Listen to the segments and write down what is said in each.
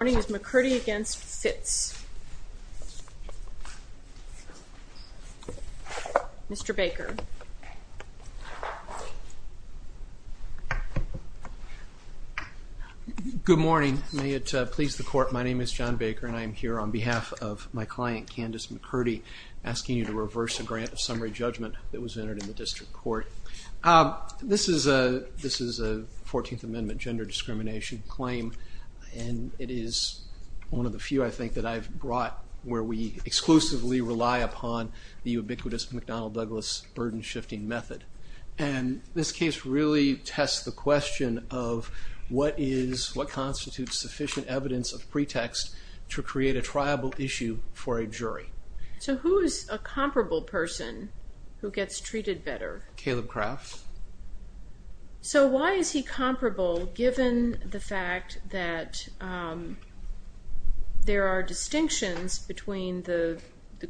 Good morning. May it please the court, my name is John Baker and I am here on behalf of my client, Candice McCurdy, asking you to reverse a grant of summary judgment that was entered in the district court. This is a 14th Amendment gender discrimination claim and it is one of the few, I think, that I've brought where we exclusively rely upon the ubiquitous McDonnell-Douglas burden-shifting method. And this case really tests the question of what constitutes sufficient evidence of pretext to create a triable issue for a jury. So who is a comparable person who gets treated better? Caleb Kraft. So why is he comparable given the fact that there are distinctions between the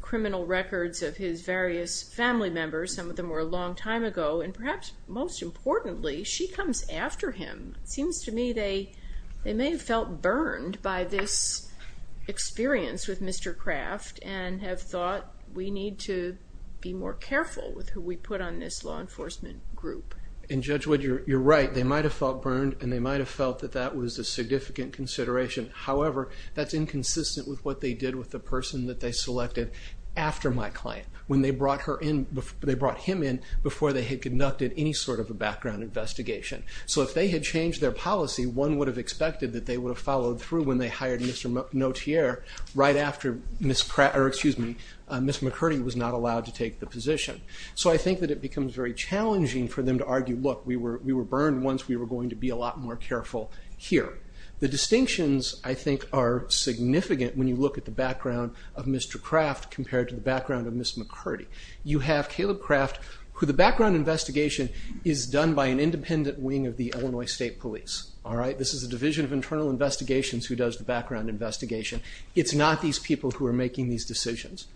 criminal records of his various family members, some of them were a long time ago, and perhaps most importantly, she comes after him. It seems to me they may have felt burned by this experience with Mr. Kraft and have thought we need to be more careful with who we put on this law enforcement group. And Judge Wood, you're right, they might have felt burned and they might have felt that that was a significant consideration. However, that's inconsistent with what they did with the person that they selected after my client, when they brought him in before they had conducted any sort of a background investigation. So if they had changed their policy, one would have expected that they would have followed through when they hired Mr. Notier right after Ms. McCurdy was not allowed to take the position. So I think that it becomes very challenging for them to argue, look, we were burned once, we were going to be a lot more careful here. The distinctions, I think, are significant when you look at the background of Mr. Kraft compared to the background of Ms. McCurdy. You have Caleb Kraft, who the background investigation is done by an independent wing of the Illinois State Police, all right? This is a division of internal investigations who does the background investigation. It's not these people who are making these decisions.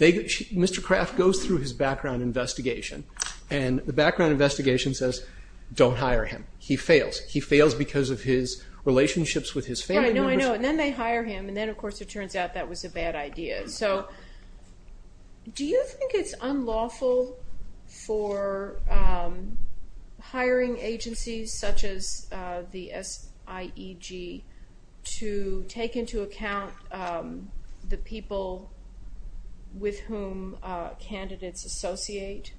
Mr. Kraft goes through his background investigation and the background investigation says, don't hire him. He fails. He fails because of his relationships with his family members. Yeah, I know, I know. And then they hire him and then, of course, it turns out that was a bad idea. All right, so do you think it's unlawful for hiring agencies such as the SIEG to take into account the people with whom candidates associate?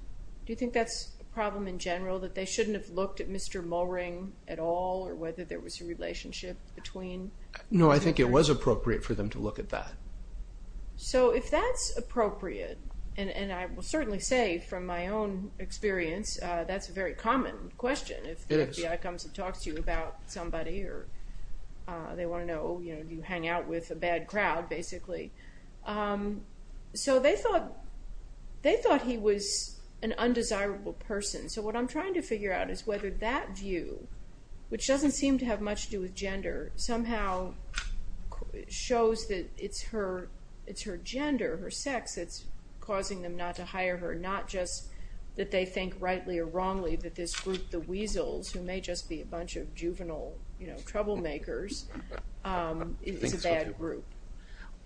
Do you think that's a problem in general, that they shouldn't have looked at Mr. Mulring at all or whether there was a relationship between? No, I think it was appropriate for them to look at that. So if that's appropriate, and I will certainly say from my own experience, that's a very common question. It is. If the FBI comes and talks to you about somebody or they want to know, you know, do you hang out with a bad crowd, basically. So they thought he was an undesirable person. So what I'm trying to figure out is whether that view, which doesn't seem to have much to do with gender, somehow shows that it's her gender, her sex, that's causing them not to hire her. Not just that they think rightly or wrongly that this group, the Weasels, who may just be a bunch of juvenile, you know, troublemakers, is a bad group.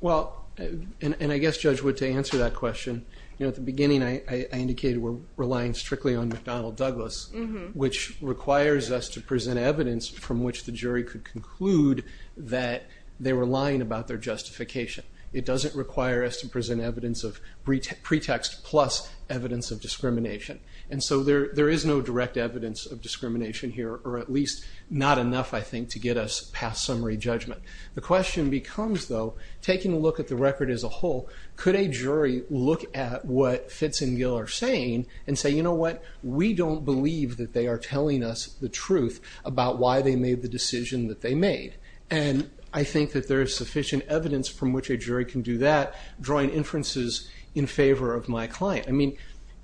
Well, and I guess, Judge Wood, to answer that question, you know, at the beginning I indicated we're relying strictly on McDonnell Douglas, which requires us to present evidence from which the jury could conclude that they were lying about their justification. It doesn't require us to present evidence of pretext plus evidence of discrimination. And so there is no direct evidence of discrimination here, or at least not enough, I think, to get us past summary judgment. The question becomes, though, taking a look at the record as a whole, could a jury look at what Fitz and Gill are saying and say, you know what, we don't believe that they are telling us the truth about why they made the decision that they made. And I think that there is sufficient evidence from which a jury can do that, drawing inferences in favor of my client. I mean,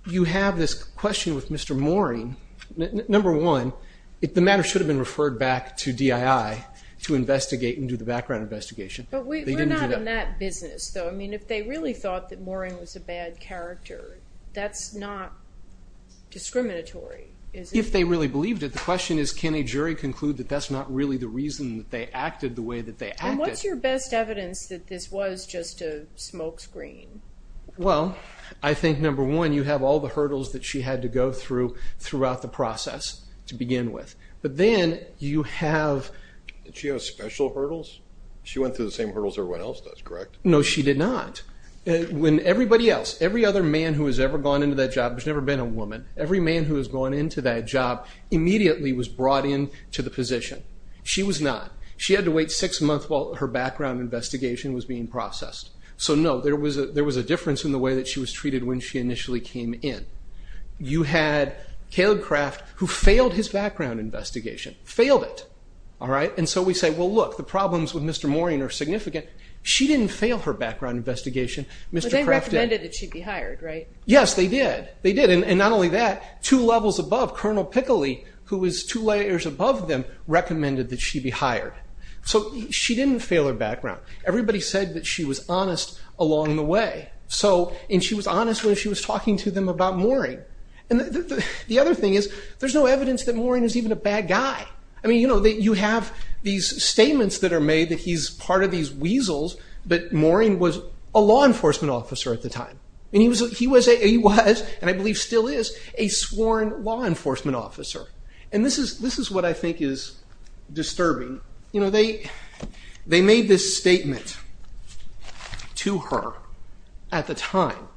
you have this question with Mr. Mooring. Number one, the matter should have been referred back to DII to investigate and do the background investigation. But we're not in that business, though. I mean, if they really thought that Mooring was a bad character, that's not discriminatory, is it? If they really believed it. The question is, can a jury conclude that that's not really the reason that they acted the way that they acted? And what's your best evidence that this was just a smokescreen? Well, I think, number one, you have all the hurdles that she had to go through throughout the process to begin with. But then you have... Did she have special hurdles? She went through the same hurdles everyone else does, correct? No, she did not. When everybody else, every other man who has ever gone into that job, there's never been a woman, every man who has gone into that job immediately was brought in to the position. She was not. She had to wait six months while her background investigation was being processed. So, no, there was a difference in the way that she was treated when she initially came in. You had Caleb Kraft, who failed his background investigation. Failed it. All right? And so we say, well, look, the problems with Mr. Mooring are significant. She didn't fail her background investigation. But they recommended that she be hired, right? Yes, they did. They did. And not only that, two levels above, Colonel Pickley, who was two layers above them, recommended that she be hired. So she didn't fail her background. Everybody said that she was honest along the way. And she was honest when she was talking to them about Mooring. And the other thing is there's no evidence that Mooring is even a bad guy. I mean, you know, you have these statements that are made that he's part of these weasels, but Mooring was a law enforcement officer at the time. And he was, and I believe still is, a sworn law enforcement officer. And this is what I think is disturbing. You know, they made this statement to her at the time.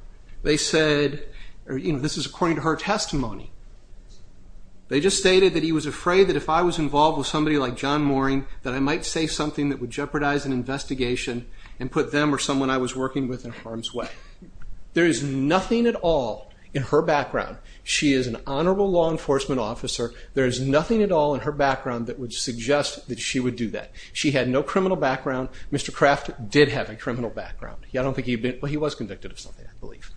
They said, you know, this is according to her testimony. They just stated that he was afraid that if I was involved with somebody like John Mooring, that I might say something that would jeopardize an investigation and put them or someone I was working with in harm's way. There is nothing at all in her background. She is an honorable law enforcement officer. There is nothing at all in her background that would suggest that she would do that. She had no criminal background. Mr. Kraft did have a criminal background. I don't think he did, but he was convicted of something, I believe.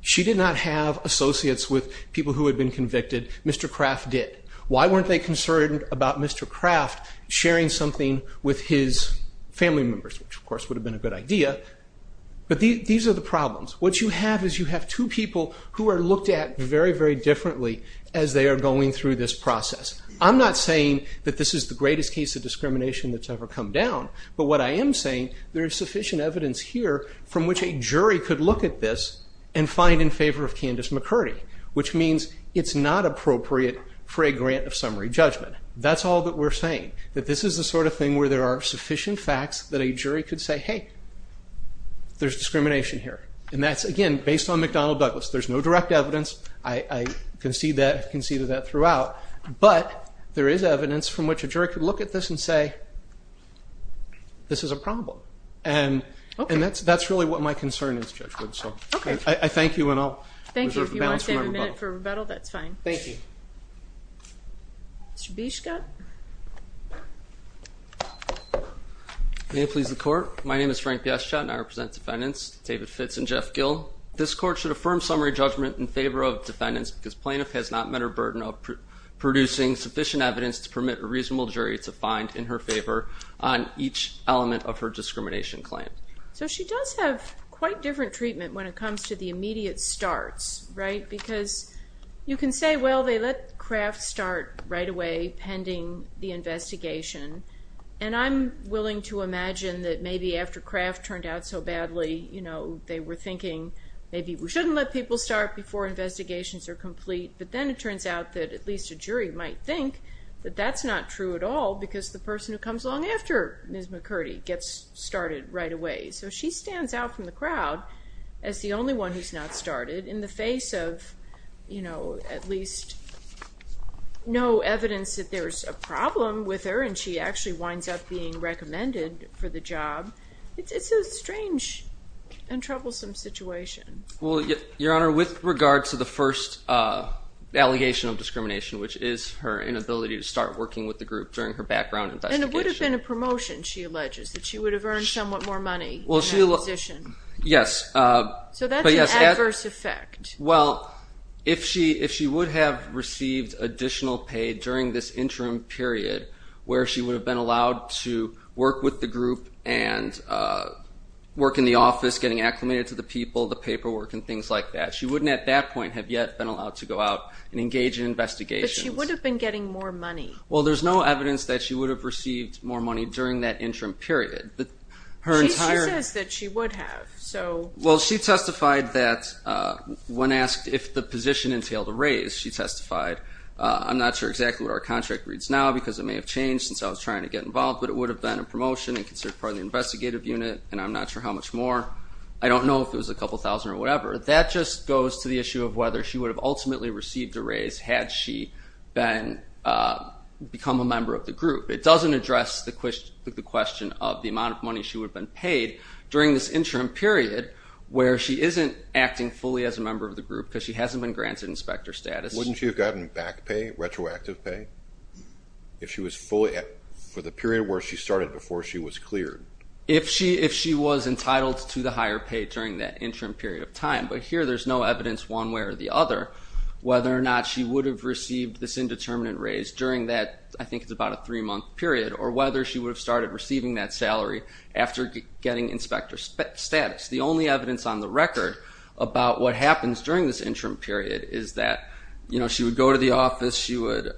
She did not have associates with people who had been convicted. Mr. Kraft did. Why weren't they concerned about Mr. Kraft sharing something with his family members, But these are the problems. What you have is you have two people who are looked at very, very differently as they are going through this process. I'm not saying that this is the greatest case of discrimination that's ever come down. But what I am saying, there is sufficient evidence here from which a jury could look at this and find in favor of Candace McCurdy, which means it's not appropriate for a grant of summary judgment. That's all that we're saying, that this is the sort of thing where there are sufficient facts that a jury could say, hey, there's discrimination here. And that's, again, based on McDonnell Douglas. There's no direct evidence. I conceded that throughout. But there is evidence from which a jury could look at this and say, this is a problem. And that's really what my concern is, Judge Wood. I thank you, and I'll reserve the balance for my rebuttal. Thank you. If you want to save a minute for rebuttal, that's fine. Thank you. Mr. Bieschke. May it please the Court. My name is Frank Bieschke, and I represent defendants. David Fitz and Jeff Gill. This Court should affirm summary judgment in favor of defendants because plaintiff has not met her burden of producing sufficient evidence to permit a reasonable jury to find in her favor on each element of her discrimination claim. So she does have quite different treatment when it comes to the immediate starts, right? Because you can say, well, they let Kraft start right away pending the investigation. And I'm willing to imagine that maybe after Kraft turned out so badly, they were thinking maybe we shouldn't let people start before investigations are complete. But then it turns out that at least a jury might think that that's not true at all because the person who comes along after Ms. McCurdy gets started right away. So she stands out from the crowd as the only one who's not started in the face of at least no evidence that there's a problem with her, and she actually winds up being recommended for the job. It's a strange and troublesome situation. Well, Your Honor, with regard to the first allegation of discrimination, which is her inability to start working with the group during her background investigation. And it would have been a promotion, she alleges, that she would have earned somewhat more money in that position. Yes. So that's an adverse effect. Well, if she would have received additional pay during this interim period where she would have been allowed to work with the group and work in the office getting acclimated to the people, the paperwork, and things like that, she wouldn't at that point have yet been allowed to go out and engage in investigations. But she would have been getting more money. Well, there's no evidence that she would have received more money during that interim period. She says that she would have. Well, she testified that when asked if the position entailed a raise, she testified, I'm not sure exactly what our contract reads now because it may have changed since I was trying to get involved, but it would have been a promotion and considered part of the investigative unit, and I'm not sure how much more. I don't know if it was a couple thousand or whatever. That just goes to the issue of whether she would have ultimately received a raise had she become a member of the group. It doesn't address the question of the amount of money she would have been paid during this interim period where she isn't acting fully as a member of the group because she hasn't been granted inspector status. Wouldn't she have gotten back pay, retroactive pay, for the period where she started before she was cleared? If she was entitled to the higher pay during that interim period of time. But here there's no evidence one way or the other whether or not she would have received this indeterminate raise during that, I think it's about a three-month period, or whether she would have started receiving that salary after getting inspector status. The only evidence on the record about what happens during this interim period is that she would go to the office, she would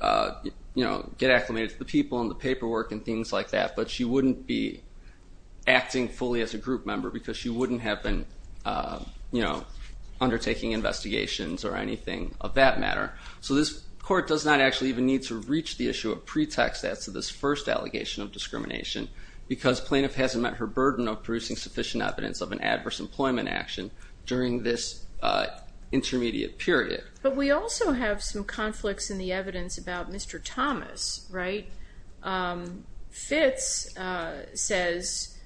get acclimated to the people and the paperwork and things like that, but she wouldn't be acting fully as a group member because she wouldn't have been undertaking investigations or anything of that matter. So this court does not actually even need to reach the issue of pretext as to this first allegation of discrimination because plaintiff hasn't met her burden of producing sufficient evidence of an adverse employment action during this intermediate period. But we also have some conflicts in the evidence about Mr. Thomas, right? Fitz says,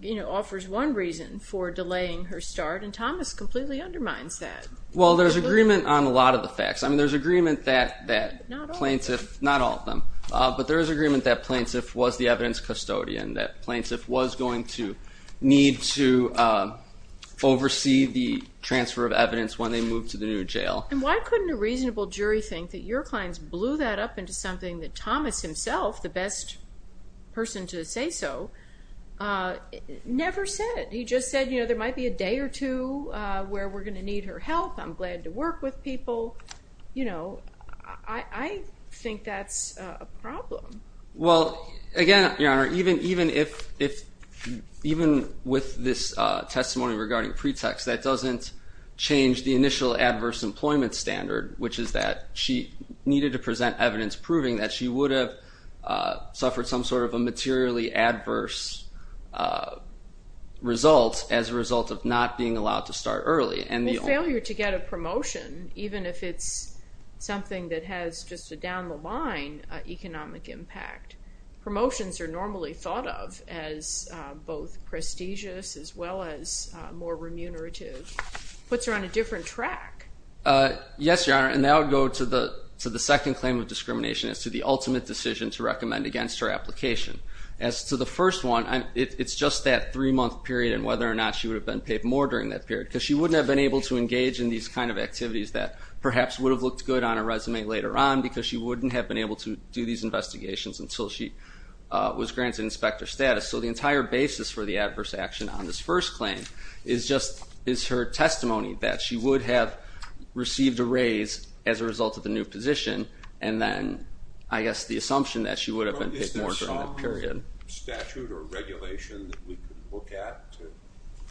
you know, offers one reason for delaying her start and Thomas completely undermines that. Well, there's agreement on a lot of the facts. I mean, there's agreement that plaintiff, not all of them, but there is agreement that plaintiff was the evidence custodian, that plaintiff was going to need to oversee the transfer of evidence when they moved to the new jail. And why couldn't a reasonable jury think that your clients blew that up into something that Thomas himself, the best person to say so, never said? He just said, you know, there might be a day or two where we're going to need her help. I'm glad to work with people. You know, I think that's a problem. Well, again, Your Honor, even with this testimony regarding pretext, that doesn't change the initial adverse employment standard, which is that she needed to present evidence proving that she would have suffered some sort of a materially adverse result as a result of not being allowed to start early. Well, failure to get a promotion, even if it's something that has just a down-the-line economic impact, promotions are normally thought of as both prestigious as well as more remunerative, puts her on a different track. Yes, Your Honor, and that would go to the second claim of discrimination, as to the ultimate decision to recommend against her application. As to the first one, it's just that three-month period and whether or not she would have been paid more during that period, because she wouldn't have been able to engage in these kind of activities that perhaps would have looked good on her resume later on, because she wouldn't have been able to do these investigations until she was granted inspector status. So the entire basis for the adverse action on this first claim is just her testimony that she would have received a raise as a result of the new position and then, I guess, the assumption that she would have been paid more during that period. Is there some statute or regulation that we could look at to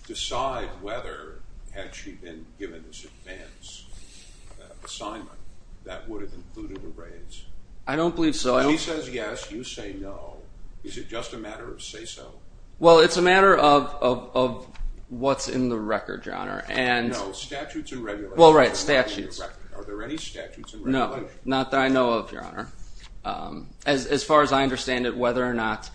decide whether had she been given this advance assignment that would have included a raise? I don't believe so. If she says yes, you say no. Is it just a matter of say-so? Well, it's a matter of what's in the record, Your Honor. No, statutes and regulations. Well, right, statutes. Are there any statutes and regulations? No, not that I know of, Your Honor. As far as I understand it, whether or not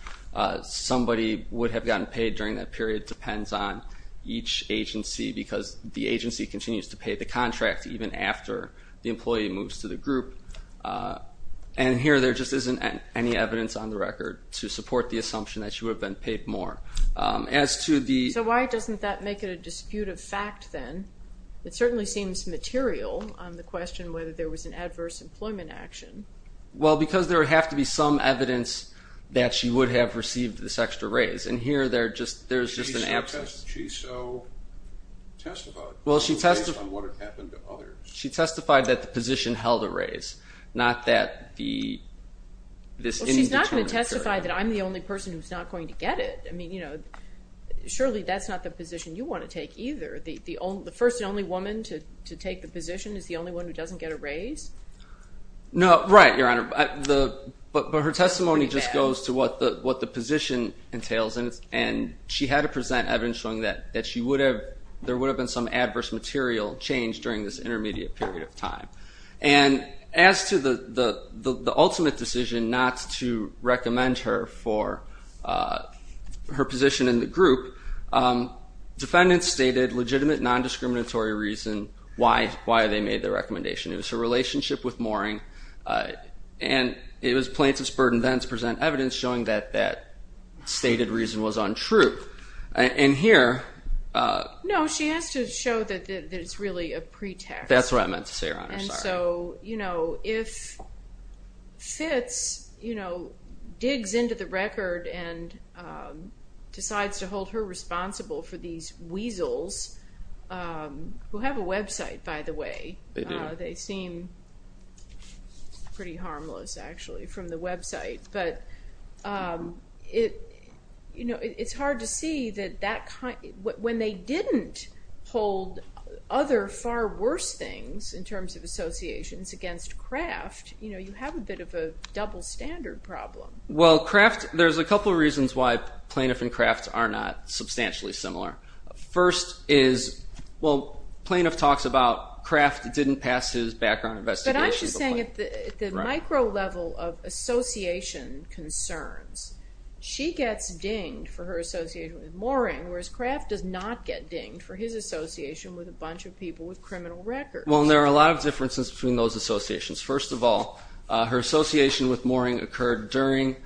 somebody would have gotten paid during that period depends on each agency because the agency continues to pay the contract even after the employee moves to the group. And here there just isn't any evidence on the record to support the assumption that she would have been paid more. So why doesn't that make it a disputed fact then? It certainly seems material on the question whether there was an adverse employment action. Well, because there would have to be some evidence that she would have received this extra raise. And here there's just an absence. She so testified based on what had happened to others. She testified that the position held a raise, not that this indeterminate period. Well, she's not going to testify that I'm the only person who's not going to get it. I mean, surely that's not the position you want to take either. The first and only woman to take the position is the only one who doesn't get a raise? No, right, Your Honor. But her testimony just goes to what the position entails, and she had to present evidence showing that there would have been some adverse material change during this intermediate period of time. And as to the ultimate decision not to recommend her for her position in the group, defendants stated legitimate non-discriminatory reason why they made the recommendation. It was her relationship with Mooring, and it was plaintiff's burden then to present evidence showing that that stated reason was untrue. And here... No, she has to show that it's really a pretext. That's what I meant to say, Your Honor, sorry. So, you know, if Fitz, you know, digs into the record and decides to hold her responsible for these weasels, who have a website, by the way. They do. They seem pretty harmless, actually, from the website. But it's hard to see that when they didn't hold other far worse things in terms of associations against Kraft, you know, you have a bit of a double standard problem. Well, Kraft, there's a couple reasons why plaintiff and Kraft are not substantially similar. First is, well, plaintiff talks about Kraft didn't pass his background investigation. But I'm just saying at the micro level of association concerns, she gets dinged for her association with Mooring, whereas Kraft does not get dinged for his association with a bunch of people with criminal records. Well, there are a lot of differences between those associations. First of all, her association with Mooring occurred during...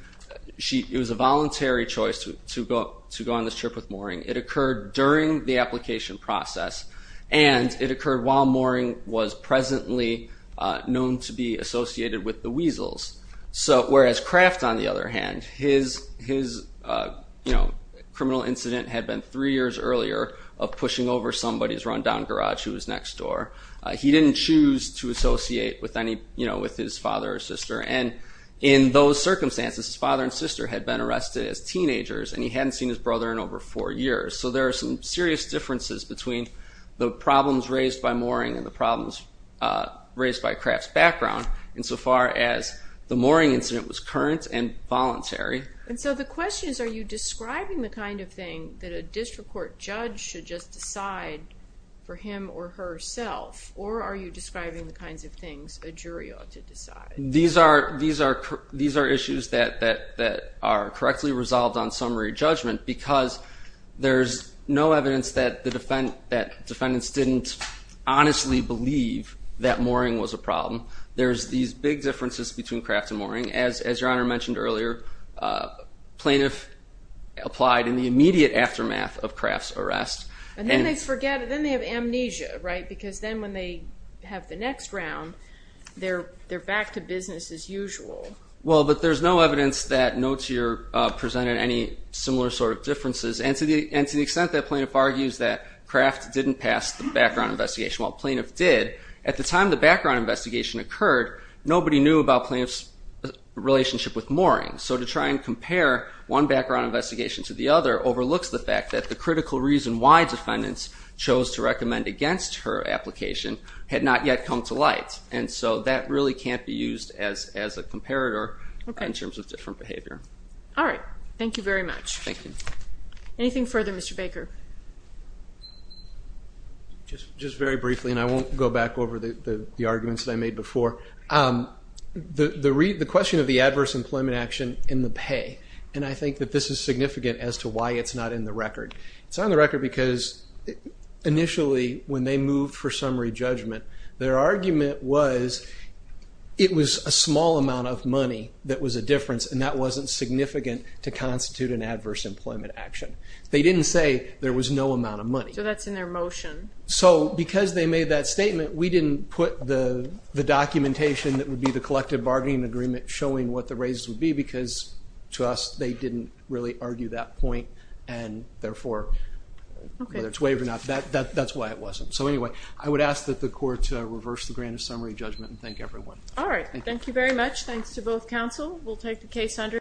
It was a voluntary choice to go on this trip with Mooring. It occurred during the application process, and it occurred while Mooring was presently known to be associated with the weasels. So whereas Kraft, on the other hand, his, you know, criminal incident had been three years earlier of pushing over somebody's run-down garage who was next door. He didn't choose to associate with any, you know, with his father or sister. And in those circumstances, his father and sister had been arrested as teenagers, and he hadn't seen his brother in over four years. So there are some serious differences between the problems raised by Mooring and the problems raised by Kraft's background, insofar as the Mooring incident was current and voluntary. And so the question is, are you describing the kind of thing that a district court judge should just decide for him or herself, or are you describing the kinds of things a jury ought to decide? These are issues that are correctly resolved on summary judgment because there's no evidence that defendants didn't honestly believe that Mooring was a problem. There's these big differences between Kraft and Mooring. As Your Honor mentioned earlier, plaintiff applied in the immediate aftermath of Kraft's arrest. And then they forget. Then they have amnesia, right, because then when they have the next round, they're back to business as usual. Well, but there's no evidence that notes here presented any similar sort of differences. And to the extent that plaintiff argues that Kraft didn't pass the background investigation, while plaintiff did, at the time the background investigation occurred, nobody knew about plaintiff's relationship with Mooring. So to try and compare one background investigation to the other overlooks the fact that the critical reason why defendants chose to recommend against her application had not yet come to light. And so that really can't be used as a comparator in terms of different behavior. All right. Thank you very much. Thank you. Anything further, Mr. Baker? Just very briefly, and I won't go back over the arguments that I made before. The question of the adverse employment action and the pay, and I think that this is significant as to why it's not in the record. It's not in the record because initially when they moved for summary judgment, their argument was it was a small amount of money that was a difference, and that wasn't significant to constitute an adverse employment action. They didn't say there was no amount of money. So that's in their motion. So because they made that statement, we didn't put the documentation that would be the collective bargaining agreement showing what the raises would be because to us they didn't really argue that point, and therefore whether it's waived or not, that's why it wasn't. So anyway, I would ask that the court reverse the grant of summary judgment and thank everyone. All right. Thank you very much. Thanks to both counsel. We'll take the case under.